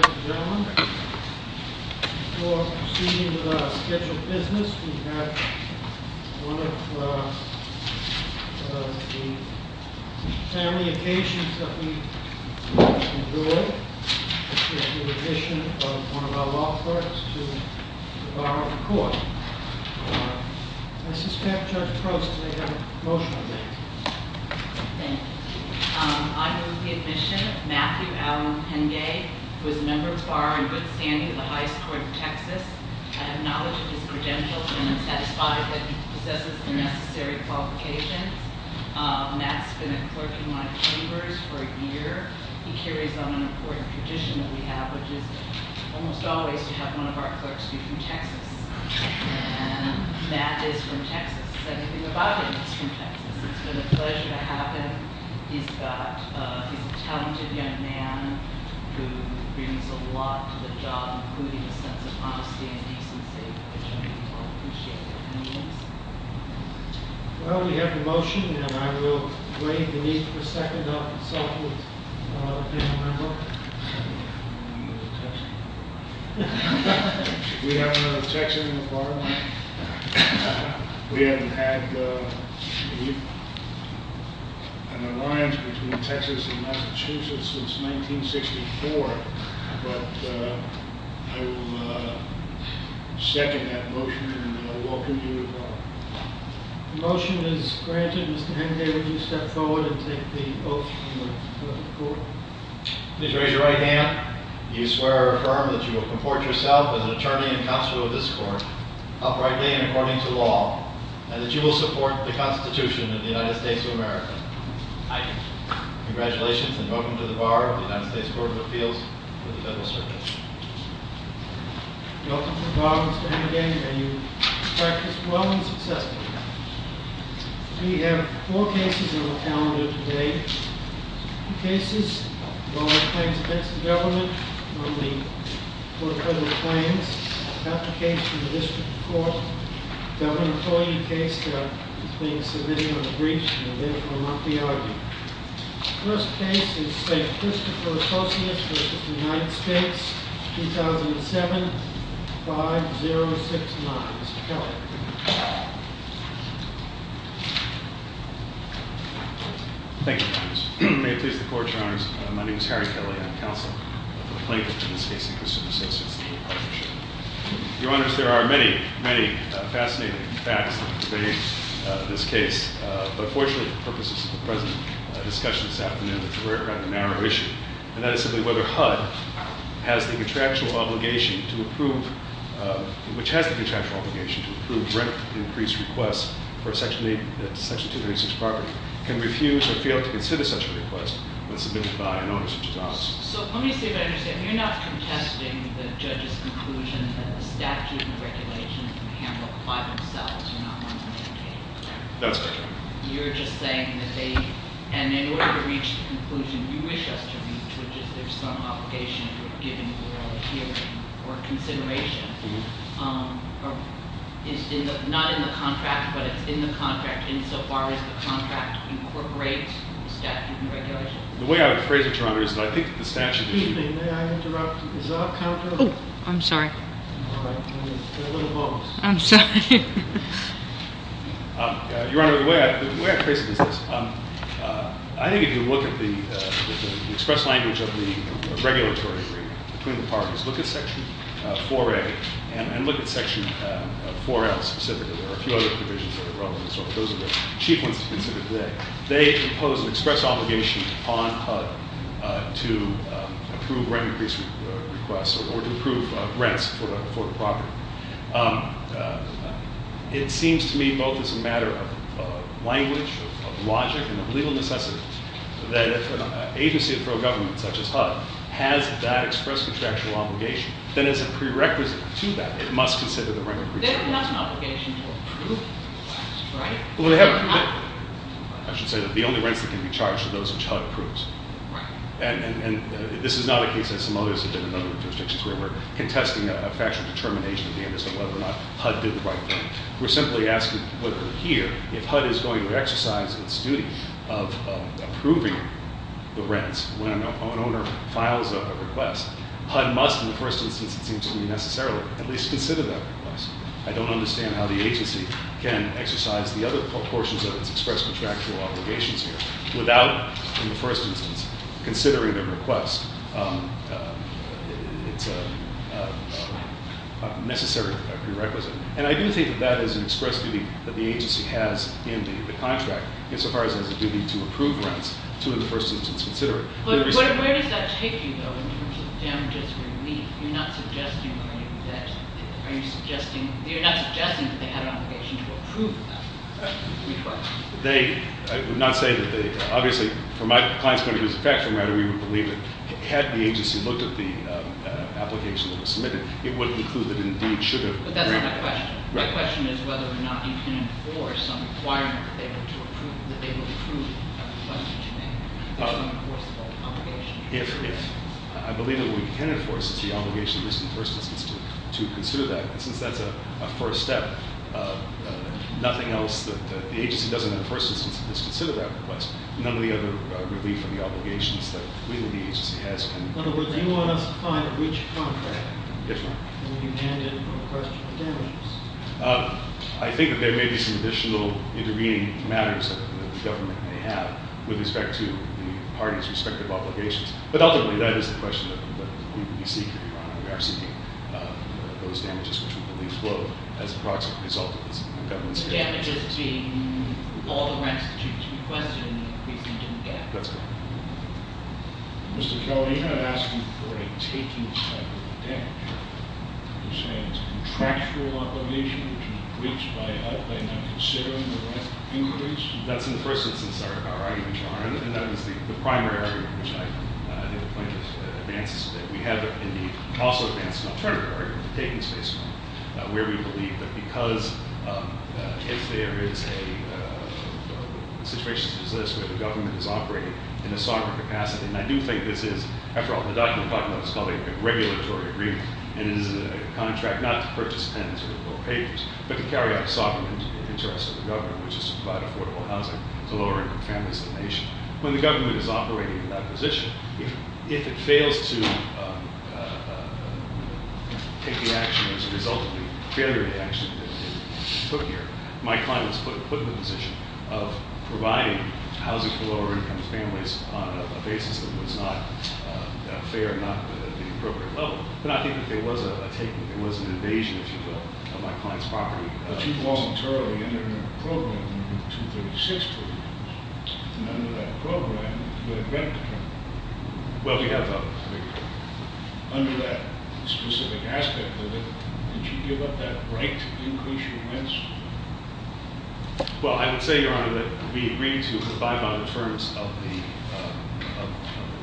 Ladies and gentlemen, before proceeding with our scheduled business, we have one of the family occasions that we enjoy, which is the admission of one of our law clerks to the Bar of the Court. I suspect Judge Prost may have a motion on that. Thank you. I move the admission of Matthew Allen Penge, who is a member of the Bar and good standing of the High Court of Texas. I have knowledge of his credentials and am satisfied that he possesses the necessary qualifications. Matt's been a clerk in my chambers for a year. He carries on an important tradition that we have, which is almost always to have one of our clerks be from Texas. And Matt is from Texas, so if you're about him, he's from Texas. It's been a pleasure to have him. He's got, he's a talented young man who brings a lot to the job, including a sense of honesty and decency, which I think we all appreciate. Well, we have the motion, and I will wait beneath for a second. I'll consult with another panel member. We have another Texan in the bar room. We haven't had an alliance between Texas and Massachusetts since 1964. But I will second that motion and welcome you to the bar. The motion is granted. Mr. Penge, would you step forward and take the oath from the Court? Please raise your right hand. Do you swear or affirm that you will comport yourself as an attorney and counsel of this Court, uprightly and according to law, and that you will support the Constitution of the United States of America? I do. Congratulations, and welcome to the bar of the United States Court of Appeals for the Federal Circuit. Welcome to the bar, Mr. Penge. May you practice well and successfully. We have four cases on the calendar today. Two cases involving claims against the government on the court of federal claims, an application to the district court, a government employee case that is being submitted on a breach and will therefore not be argued. The first case is St. Christopher Associates v. United States, 2007-5069. Mr. Penge. Thank you, Your Honors. May it please the Court, Your Honors. My name is Harry Kelley. I am counsel for the plaintiff in this case, St. Christopher Associates Legal Partnership. Your Honors, there are many, many fascinating facts that have pervaded this case, but fortunately for the purposes of the present discussion this afternoon, we're talking about a narrow issue, and that is simply whether HUD has the contractual obligation to approve rent-increased requests for a Section 236 property, can refuse or fail to consider such a request when submitted by an owner such as us. So let me see if I understand. You're not contesting the judge's conclusion that the statute and regulations can be handled by themselves. You're not going to mandate that. That's correct. You're just saying that they, and in order to reach the conclusion you wish us to reach, which is there's some obligation for giving oral hearing or consideration, is not in the contract, but it's in the contract insofar as the contract incorporates the statute and regulations. The way I would phrase it, Your Honor, is that I think the statute issue Excuse me. May I interrupt? Is that a counter? Oh, I'm sorry. All right. You're a little bogus. I'm sorry. Your Honor, the way I phrase it is this. I think if you look at the express language of the regulatory agreement between the parties, look at Section 4A and look at Section 4L specifically. There are a few other provisions that are relevant. Those are the chief ones to consider today. They impose an express obligation on HUD to approve rent increase requests or to approve rents for the property. It seems to me both as a matter of language, of logic, and of legal necessity that if an agency of federal government such as HUD has that express contractual obligation, then as a prerequisite to that, it must consider the rent increase request. Then it has an obligation to approve rents, right? I should say that the only rents that can be charged are those which HUD approves. Right. And this is not a case as some others have been in other jurisdictions where we're contesting a factual determination at the end of the day whether or not HUD did the right thing. We're simply asking whether here if HUD is going to exercise its duty of approving the rents when an owner files up a request, HUD must in the first instance it seems to me necessarily at least consider that request. I don't understand how the agency can exercise the other portions of its express contractual obligations here without in the first instance considering the request. It's a necessary prerequisite. And I do think that that is an express duty that the agency has in the contract insofar as it has a duty to approve rents to in the first instance consider it. But where does that take you though in terms of damages relief? You're not suggesting that they had an obligation to approve that request. They, I would not say that they, obviously for my client's point of view as a factoring writer, we would believe that had the agency looked at the application that was submitted, it would include that it indeed should have. But that's not my question. My question is whether or not you can enforce some requirement that they would approve a request that you made that's an enforceable obligation. I believe that what we can enforce is the obligation in the first instance to consider that. And since that's a first step, nothing else that the agency does in the first instance that's considered that request. None of the other relief or the obligations that really the agency has can- In other words, you want us to find which contract- Yes, ma'am. When you hand in a request for damages. I think that there may be some additional intervening matters that the government may have with respect to the party's respective obligations. But ultimately, that is the question that we seek to be on. We are seeking those damages which we believe flow as a proximate result of this government's- Damages being all the rents that you requested and the increase in debt. That's correct. Mr. Kelly, you're not asking for a taking type of damage. You're saying it's a contractual obligation which is breached by not considering the rent increase? That's in the first instance our argument, Your Honor. And that was the primary argument, which I think the plaintiff advances today. We have, indeed, also advanced an alternative argument to taking space from, where we believe that because if there is a situation such as this where the government is operating in a sovereign capacity, and I do think this is- After all, the document I'm talking about is called a regulatory agreement. And it is a contract not to purchase tenants or to bill papers, but to carry out sovereign interests of the government, which is to provide affordable housing to lower-income families in the nation. When the government is operating in that position, if it fails to take the action as a result of the failure of the action that it took here, my client was put in the position of providing housing for lower-income families on a basis that was not fair, not at the appropriate level. But I think that there was an invasion, if you will, of my client's property. But you voluntarily ended the program in 236, believe it or not. And under that program, you had a rent contract. Well, we have a rent contract. Under that specific aspect of it, did you give up that right to increase your rents? Well, I would say, Your Honor, that we agreed to abide by the terms of the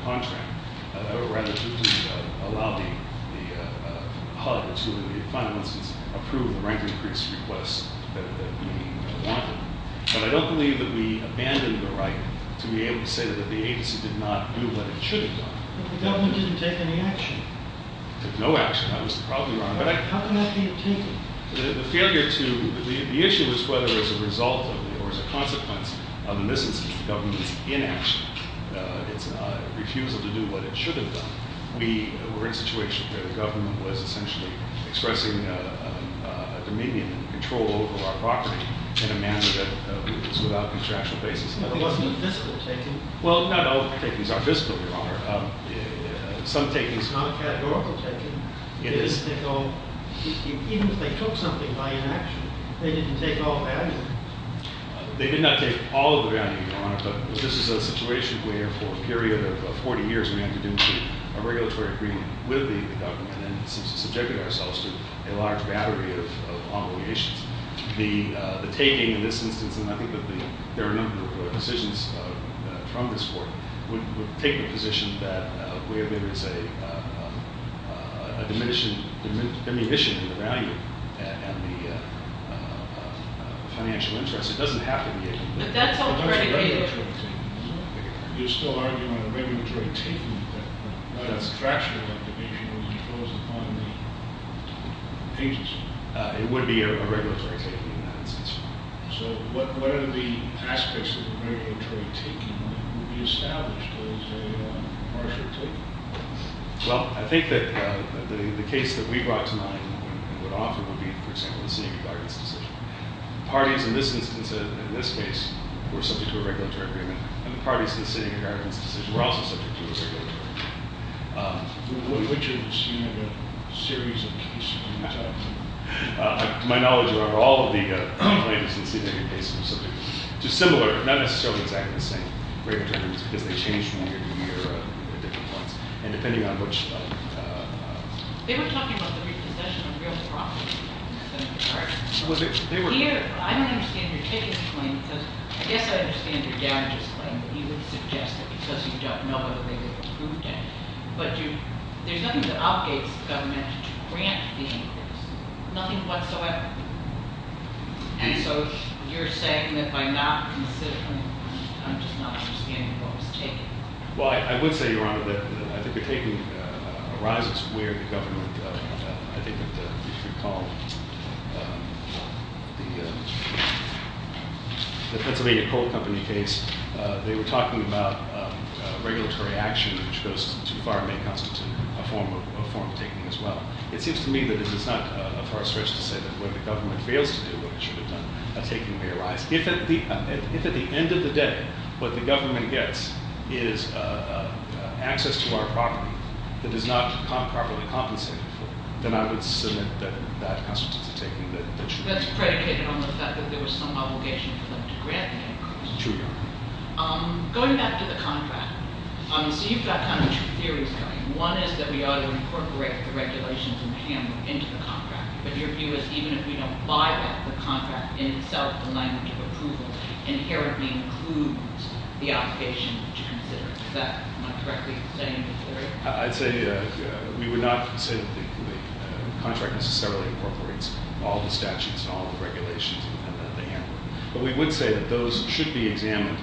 contract, or rather, to allow the HUD to, in the final instance, approve the rent increase request that we wanted. But I don't believe that we abandoned the right to be able to say that the agency did not do what it should have done. But the government didn't take any action. It took no action. That was the problem, Your Honor. How can that be a failure? The issue is whether as a result or as a consequence of the government's inaction, its refusal to do what it should have done, we were in a situation where the government was essentially expressing a dominion and control over our property in a manner that was without contractual basis. It wasn't a fiscal taking? Well, not all of the takings are fiscal, Your Honor. Some takings- It's not a categorical taking. It is. Even if they took something by inaction, they didn't take all the value. They did not take all of the value, Your Honor, but this is a situation where, for a period of 40 years, we had to do a regulatory agreement with the government and subjected ourselves to a large battery of obligations. The taking in this instance, and I think that there are a number of decisions from this Court, would take the position that where there is a diminishing value and the financial interest, it doesn't have to be a- But that's already been- It's not a regulatory thing. You're still arguing on a regulatory taking, but that's fractured obligation when it falls upon the agents. It would be a regulatory taking in that instance. So what are the aspects of a regulatory taking that would be established as a partial taking? Well, I think that the case that we brought tonight would offer would be, for example, the sitting of a guidance decision. Parties in this instance, in this case, were subject to a regulatory agreement, and the parties to the sitting of a guidance decision were also subject to a regulatory agreement. Which is, you know, the series of cases that you talked about? My knowledge of all of the complaints that seem to be cases are similar, not necessarily exactly the same regulatory agreements, because they change from year to year at different points. And depending on which- They were talking about the repossession of real property. Was it- I don't understand your taking the claim, because I guess I understand your damages claim, but you would suggest that because you don't know whether they were approved yet. But there's nothing that obligates the government to grant damages, nothing whatsoever. And so you're saying that by not considering, I'm just not understanding what was taken. Well, I would say, Your Honor, that I think the taking arises where the government, I think if you recall, the Pennsylvania Coal Company case, they were talking about regulatory action which goes too far and may constitute a form of taking as well. It seems to me that this is not a far stretch to say that when the government fails to do what it should have done, a taking may arise. If at the end of the day, what the government gets is access to our property that is not properly compensated for, then I would submit that constitutes a taking. That's predicated on the fact that there was some obligation for them to grant damages. True, Your Honor. Going back to the contract, so you've got kind of two theories going. One is that we ought to incorporate the regulations and the handbook into the contract. But your view is even if we don't buy that, the contract in itself, the language of approval, inherently includes the obligation to consider it. Is that correctly saying? I'd say we would not say that the contract necessarily incorporates all the statutes and all the regulations in the handbook. But we would say that those should be examined.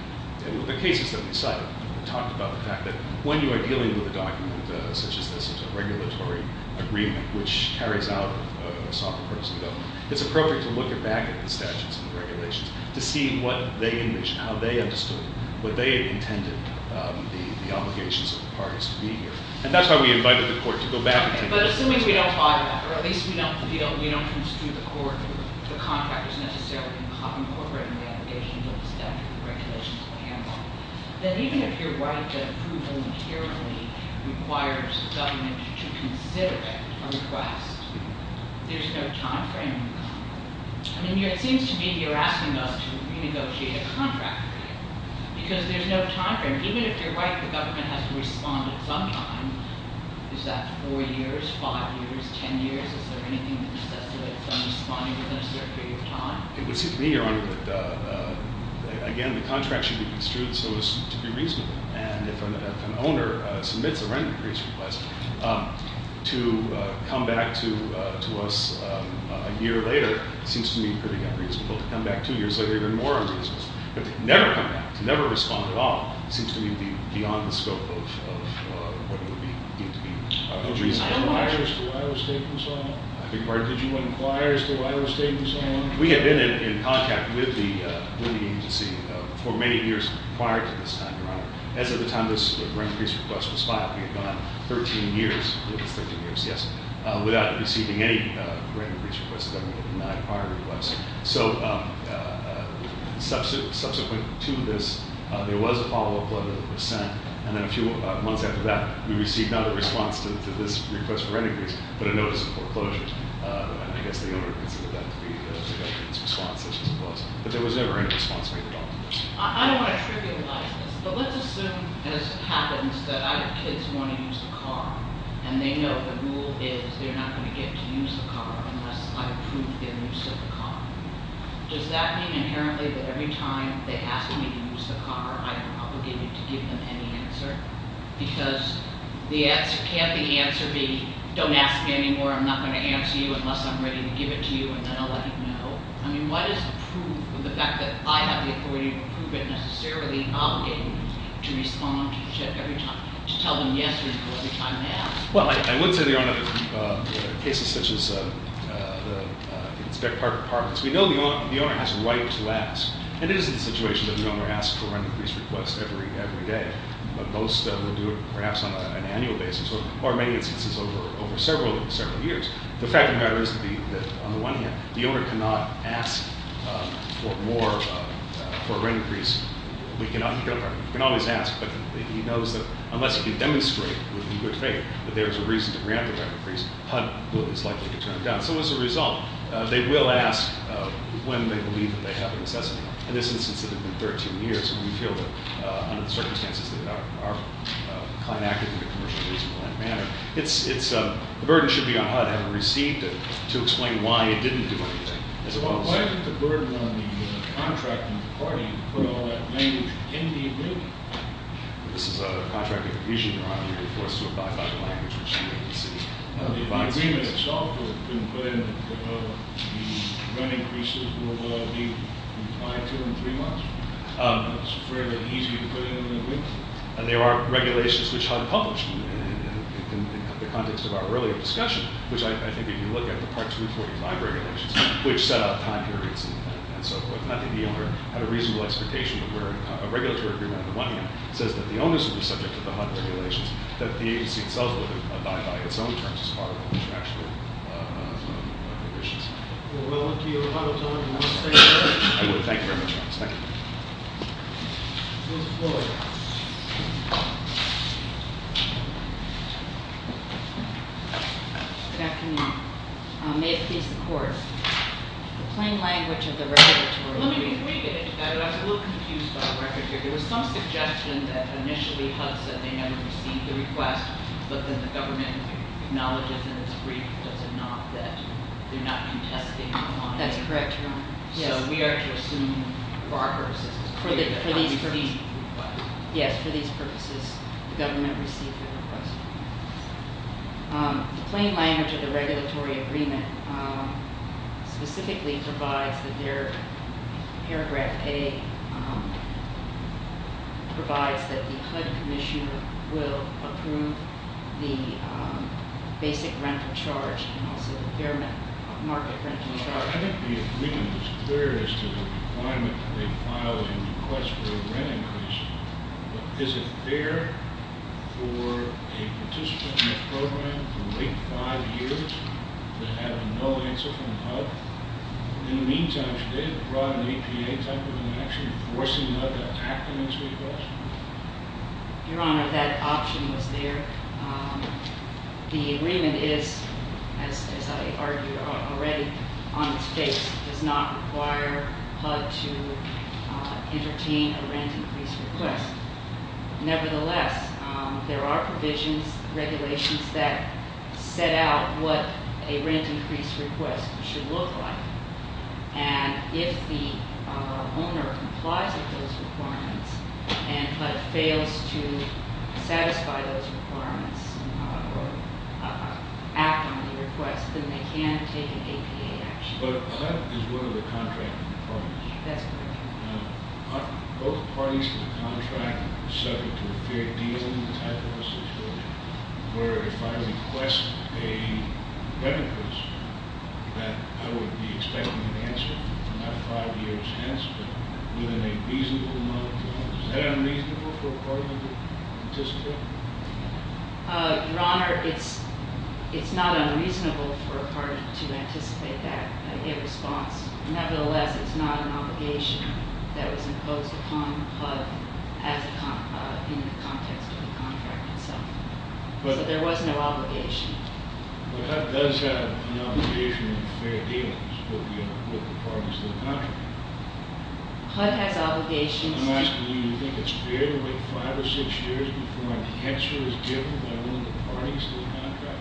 In the cases that we cited, we talked about the fact that when you are dealing with a document such as this, a regulatory agreement which carries out a sovereign person government, it's appropriate to look back at the statutes and the regulations to see what they envisioned, how they understood it, what they intended the obligations of the parties to be here. And that's why we invited the court to go back and take a look. But assuming we don't buy that, or at least we don't feel, we don't construe the court, the contract is necessarily incorporating the obligations of the statute and regulations of the handbook, then even if you're right that approval inherently requires the government to consider it, a request, there's no time frame. I mean, it seems to me you're asking us to renegotiate a contract for you. Because there's no time frame. Even if you're right, the government has to respond at some time. Is that four years, five years, ten years? Is there anything that necessitates them responding within a certain period of time? It would seem to me, Your Honor, that, again, the contract should be construed so as to be reasonable. And if an owner submits a rent increase request, to come back to us a year later seems to me pretty unreasonable. To come back two years later, even more unreasonable. But to never come back, to never respond at all, seems to me beyond the scope of what would need to be reasonable. Did you inquire as to why it was taken so long? I beg your pardon? Did you inquire as to why it was taken so long? We had been in contact with the agency for many years prior to this time, Your Honor. As of the time this rent increase request was filed, we had gone 13 years, yes, without receiving any rent increase request. The government had denied prior requests. So subsequent to this, there was a follow-up letter that was sent. And then a few months after that, we received not a response to this request for rent increase, but a notice of foreclosure. And I guess the owner considered that to be the government's response, as it was. But there was never any response made at all. I don't want to trivialize this, but let's assume, as happens, that I have kids who want to use the car. And they know the rule is they're not going to get to use the car unless I approve their use of the car. Does that mean inherently that every time they ask me to use the car, I am obligated to give them any answer? Because can't the answer be, don't ask me anymore, I'm not going to answer you unless I'm ready to give it to you, and then I'll let you know? I mean, what is the proof of the fact that I have the authority to prove it, necessarily obligating to respond to the check every time, to tell them yes or no every time they ask? Well, I would say, Your Honor, in cases such as the inspect car departments, we know the owner has a right to ask. And it is the situation that the owner asks for rent increase request every day. But most of them do it perhaps on an annual basis, or in many instances, over several years. The fact of the matter is that on the one hand, the owner cannot ask for more, for a rent increase. We can always ask, but he knows that unless he can demonstrate with good faith that there is a reason to grant the rent increase, HUD is likely to turn it down. So as a result, they will ask when they believe that they have the necessity. In this instance, it had been 13 years. And we feel that under the circumstances that our client acted in a commercially reasonable manner, the burden should be on HUD having received it to explain why it didn't do anything. Why did the burden on the contracting party put all that language in the agreement? This is a contracting division, Your Honor. You're forced to abide by the language which the agency provides. If the agreement itself couldn't put in, the rent increases would be implied two and three months. It's fairly easy to put in an agreement. And there are regulations which HUD published in the context of our earlier discussion, which I think if you look at the Part 245 regulations, which set out time periods and so forth, I think the owner had a reasonable expectation of where a regulatory agreement on the one hand says that the owner should be subject to the HUD regulations, that the agency itself would abide by its own terms as part of the contractual provisions. We'll move to your final time. I would thank you very much, Your Honor. Thank you. Ms. Floyd. Good afternoon. May it please the court. Plain language of the regulatory- Let me reiterate that I was a little confused by the record here. There was some suggestion that initially HUD said they had received the request, but then the government acknowledges in its brief does it not that they're not contesting the bond. That's correct, Your Honor. So we are to assume for our purposes- For these purposes- Yes, for these purposes the government received the request. The plain language of the regulatory agreement specifically provides that paragraph A provides that the HUD commissioner will approve the basic rental charge and also the fair market rental charge. I think the agreement was clear as to the requirement that they file a request for a rent increase, but is it fair for a participant in this program to wait five years to have no answer from HUD? In the meantime, should they have brought an APA type of an action forcing HUD to act on this request? Your Honor, that option was there. The agreement is, as I argued already on this case, does not require HUD to entertain a rent increase request. Nevertheless, there are provisions, regulations that set out what a rent increase request should look like. And if the owner complies with those requirements and HUD fails to satisfy those requirements or act on the request, then they can take an APA action. But HUD is one of the contracting parties. That's correct. Are both parties in the contract subject to a fair deal type of a situation where if I request a rent increase that I would be expecting an answer, not five years hence, but within a reasonable amount of time? Is that unreasonable for a party to anticipate? Your Honor, it's not unreasonable for a party to anticipate that in response. Nevertheless, it's not an obligation that was imposed upon HUD in the context of the contract itself. So there was no obligation. But HUD does have an obligation of a fair deal with the parties in the contract. HUD has obligations- I'm asking you, do you think it's fair to wait five or six years before an answer is given by one of the parties to the contract?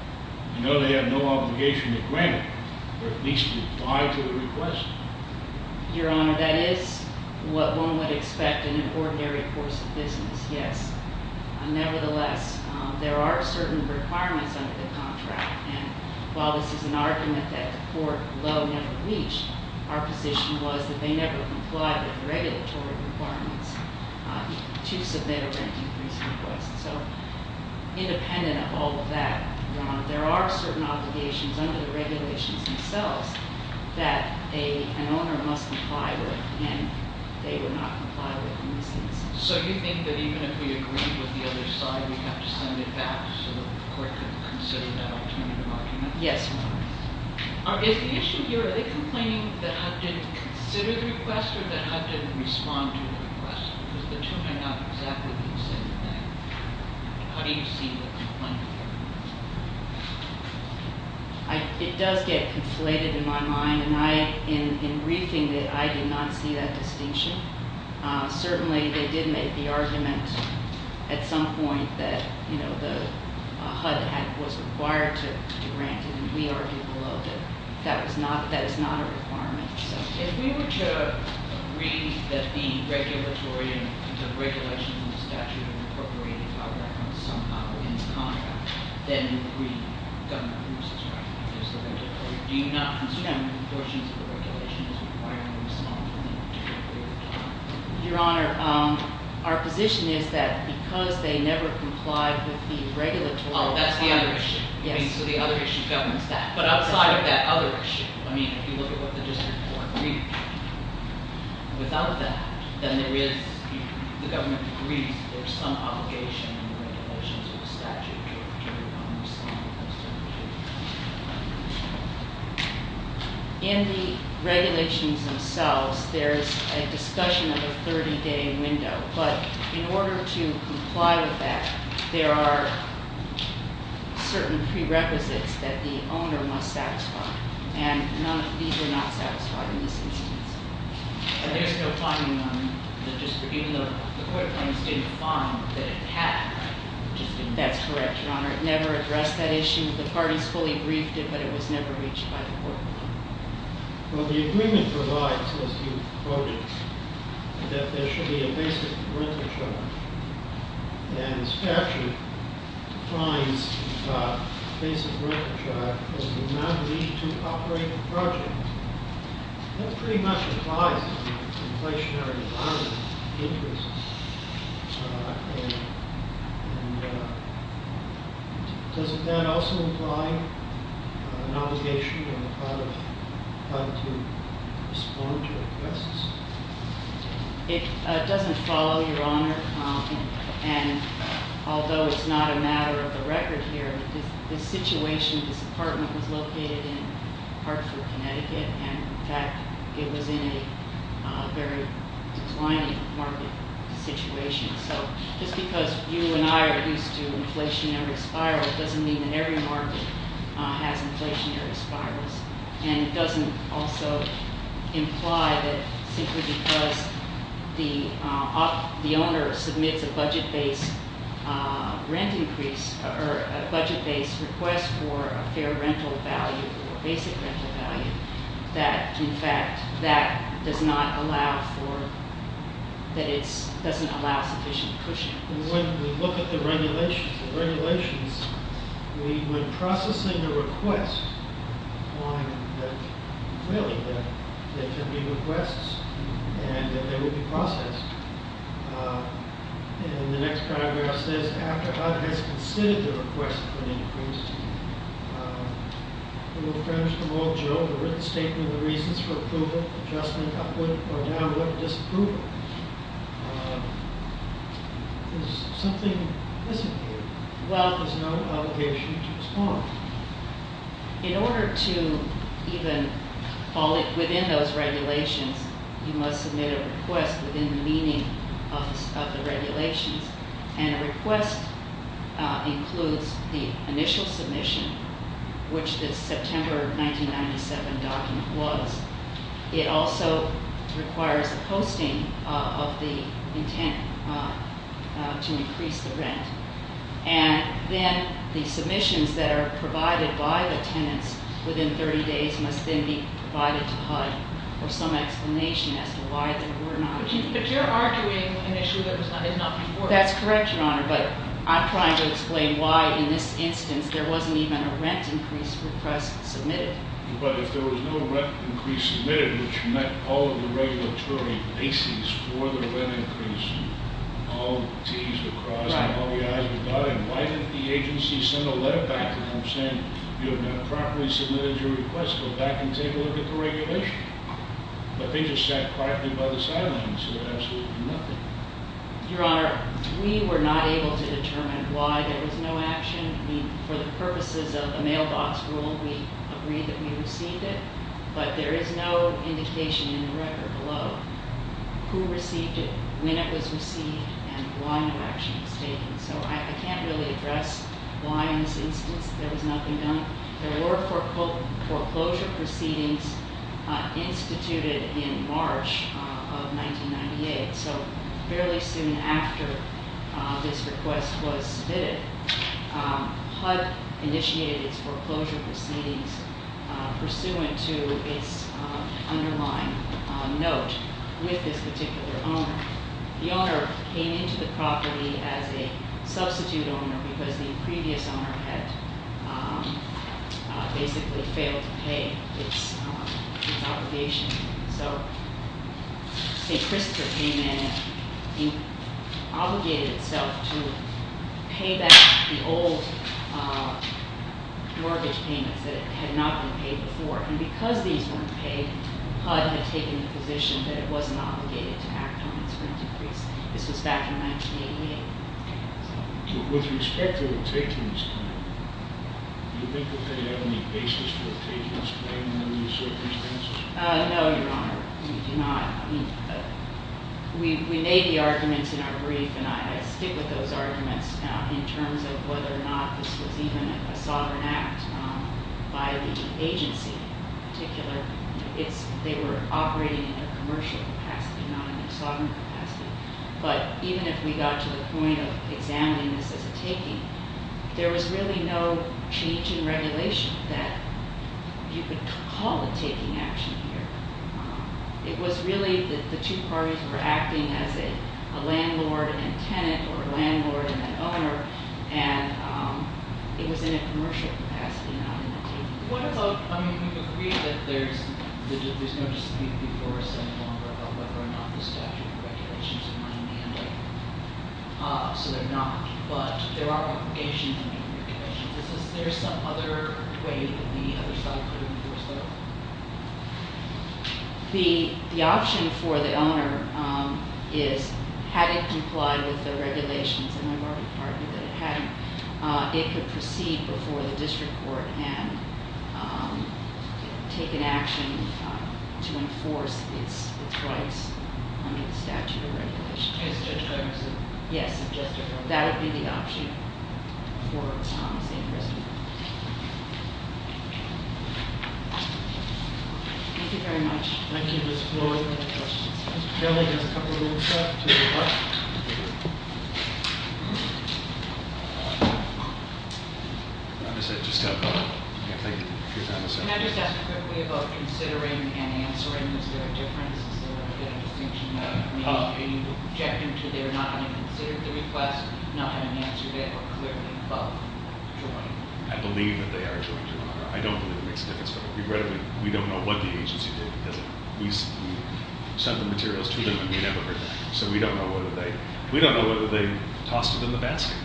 You know they have no obligation to grant it, or at least to die to the request. Your Honor, that is what one would expect in an ordinary course of business, yes. Nevertheless, there are certain requirements under the contract. And while this is an argument that the court low never reached, our position was that they never complied with the regulatory requirements to submit a rent increase request. So independent of all of that, Your Honor, there are certain obligations under the regulations themselves that an owner must comply with, and they would not comply with in this instance. So you think that even if we agreed with the other side, we'd have to send it back so that the court could consider that alternative argument? Yes, Your Honor. Is the issue here, are they complaining that HUD didn't consider the request or that HUD didn't respond to the request? Because the two are not exactly the same thing. How do you see the complaint here? It does get conflated in my mind. And in briefing, I did not see that distinction. Certainly, they did make the argument at some point that the HUD was required to grant it, and we argued below that. That is not a requirement. If we were to agree that the regulatory and the regulations in the statute are incorporated by reference somehow in this contract, then we would agree that the government approves this right. Do you not consider the portions of the regulation as requiring a response in a particular period of time? Your Honor, our position is that because they never complied with the regulatory- Oh, that's the other issue. Yes. So the other issue governs that. But outside of that other issue, I mean, if you look at what the district court agreed without that, then there is, if the government agrees, there's some obligation in the regulations of the statute. In the regulations themselves, there's a discussion of a 30-day window. But in order to comply with that, there are certain prerequisites that the owner must satisfy. And none of these are not satisfied in this instance. There's no finding on the district, even though the court claims to have found that it had- That's correct, Your Honor. It never addressed that issue. The parties fully briefed it, but it was never reached by the court. Well, the agreement provides, as you quoted, that there should be a basic renter charge. And the statute defines a basic renter charge as the amount of each two operating projects. That pretty much applies to the inflationary environment interests. Does that also imply an obligation on the part of the private to respond to requests? And although it's not a matter of the record here, the situation, this apartment was located in Hartford, Connecticut. And in fact, it was in a very declining market situation. So just because you and I are used to inflationary spirals, doesn't mean that every market has inflationary spirals. And it doesn't also imply that simply because the owner submits a budget-based rent increase, or a budget-based request for a fair rental value or basic rental value, that in fact that does not allow for, that it doesn't allow sufficient cushion. When we look at the regulations, we, when processing a request, find that, really, that there can be requests, and that they would be processed. And the next paragraph says, after HUD has considered the request for an increase, it will furnish them all, Joe, a written statement of the reasons for approval, adjustment, upward or downward disapproval. There's something missing here. Well, there's no obligation to respond. In order to even fall within those regulations, you must submit a request within the meaning of the regulations. And a request includes the initial submission, which the September 1997 document was. It also requires a posting of the intent to increase the rent. And then the submissions that are provided by the tenants within 30 days must then be provided to HUD for some explanation as to why they were not. But you're arguing an issue that was not before. That's correct, Your Honor, but I'm trying to explain why, in this instance, there wasn't even a rent increase request submitted. But if there was no rent increase submitted, which met all of the regulatory bases for the rent increase, all t's were crossed, and all the i's were dotted, why didn't the agency send a letter back to them saying, you have not properly submitted your request. Go back and take a look at the regulation. But they just sat quietly by the sidelines and said absolutely nothing. Your Honor, we were not able to determine why there was no action. I mean, for the purposes of the mailbox rule, we agreed that we received it. But there is no indication in the record below who received it, when it was received, and why no action was taken. So I can't really address why in this instance there was nothing done. There were foreclosure proceedings instituted in March of 1998, so fairly soon after this request was submitted, HUD initiated its foreclosure proceedings, pursuant to its underlying note with this particular owner. The owner came into the property as a substitute owner because the previous owner had basically failed to pay its obligation. So St. Christopher came in and obligated itself to pay back the old mortgage payments that had not been paid before. And because these weren't paid, HUD had taken the position that it wasn't obligated to act on its rent increase. This was back in 1988. With respect to the takings claim, do you think that they have any basis for a takings claim under these circumstances? No, Your Honor, we do not. We made the arguments in our brief, and I stick with those arguments in terms of whether or not this was even a sovereign act by the agency in particular. They were operating in a commercial capacity, not in a sovereign capacity. But even if we got to the point of examining this as a taking, there was really no change in regulation that you could call a taking action here. It was really that the two parties were acting as a landlord and a tenant or a landlord and an owner, and it was in a commercial capacity, not in a taking. What about, I mean, we've agreed that there's no discipline before us any longer about whether or not the statute of regulations are in my hand, so they're not. But there are obligations under the regulations. Is there some other way that the other side could enforce that? The option for the owner is, had it complied with the regulations, and I've already pardoned that it hadn't, it could proceed before the district court and take an action to enforce its rights under the statute of regulations. In the case of Judge Thompson? Yes. That would be the option for Thomas and Christie. Thank you very much. Thank you, Ms. Floyd. Any other questions? Mr. Kelly has a couple of little stuff to report. Can I just ask a quick way about considering and answering? Is there a difference? Is there a distinction that needs to be objected to? They're not going to consider the request, not going to answer it, or clearly felt joined. I believe that they are joined, Your Honor. I don't believe it makes a difference. We don't know what the agency did because we sent the materials to them and we never heard back. So we don't know whether they tossed it in the basket.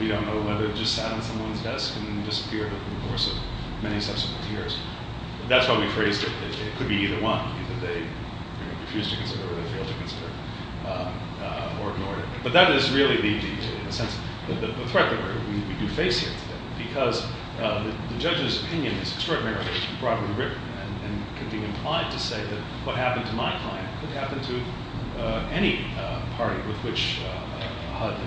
We don't know whether it just sat on someone's desk and disappeared over the course of many subsequent years. That's why we phrased it. It could be either one. I don't believe that they refused to consider or they failed to consider or ignore it. But that is really the threat that we face here today because the judge's opinion is extraordinarily broadly written and could be implied to say that what happened to my client could happen to any party with which HUD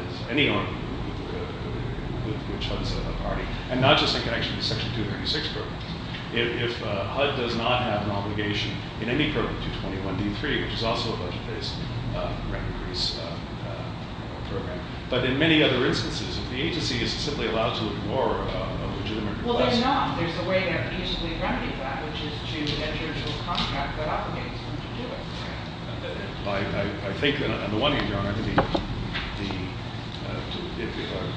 is a party, and not just in connection with Section 236 programs. If HUD does not have an obligation in any program to 21d3, which is also a budget-based remedies program, but in many other instances, if the agency is simply allowed to ignore a legitimate request. Well, they're not. There's a way to reasonably remedy that, which is to enter into a contract that obligates them to do it. I think that on the one hand, Your Honor,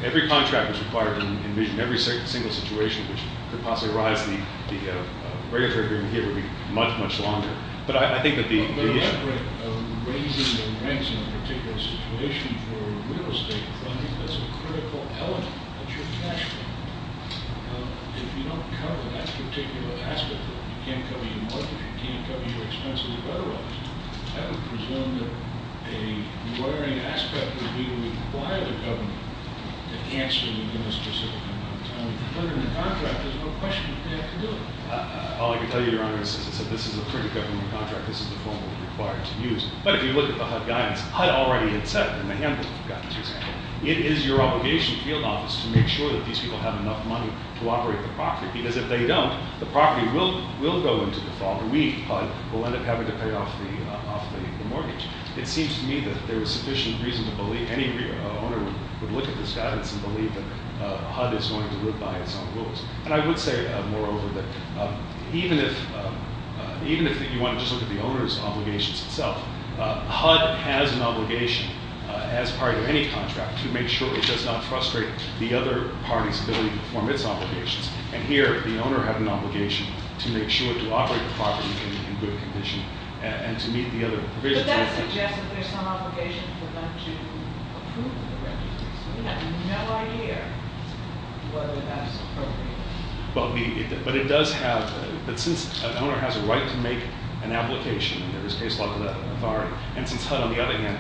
every contract is required in every single situation which could possibly arise in the regulatory agreement here would be much, much longer. But I think that the issue of raising the rents in a particular situation for real estate funding is a critical element that you're catching. If you don't cover that particular aspect of it, you can't cover your mortgage, you can't cover your expenses of other elements, I would presume that a worrying aspect would be why the government can't sue the minister for deferring the contract. There's no question that they have to do it. All I can tell you, Your Honor, is that this is a critical government contract. This is the form that we're required to use. But if you look at the HUD guidance, HUD already had set in the handbook of guidance, for example, it is your obligation in the field office to make sure that these people have enough money to operate the property, because if they don't, the property will go into default, and we, HUD, will end up having to pay off the mortgage. It seems to me that there is sufficient reason to believe any owner would look at this guidance and believe that HUD is going to live by its own rules. And I would say, moreover, that even if you want to just look at the owner's obligations itself, HUD has an obligation as part of any contract to make sure it does not frustrate the other party's ability to perform its obligations. And here, the owner had an obligation to make sure to operate the property in good condition and to meet the other provisions. But that suggests that there's some obligation for them to approve the requisites. We have no idea whether that's appropriate. But it does have, but since an owner has a right to make an application, in this case, local authority, and since HUD, on the other hand,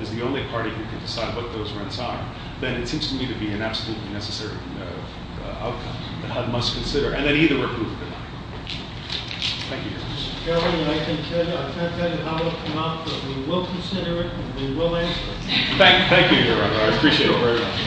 is the only party who can decide what those rents are, then it seems to me to be an absolutely necessary outcome that HUD must consider, and then either approve or deny. Thank you. Mr. Chairman, I can't tell you how it will come out, but we will consider it, and we will answer it. Thank you, Your Honor. I appreciate it very much.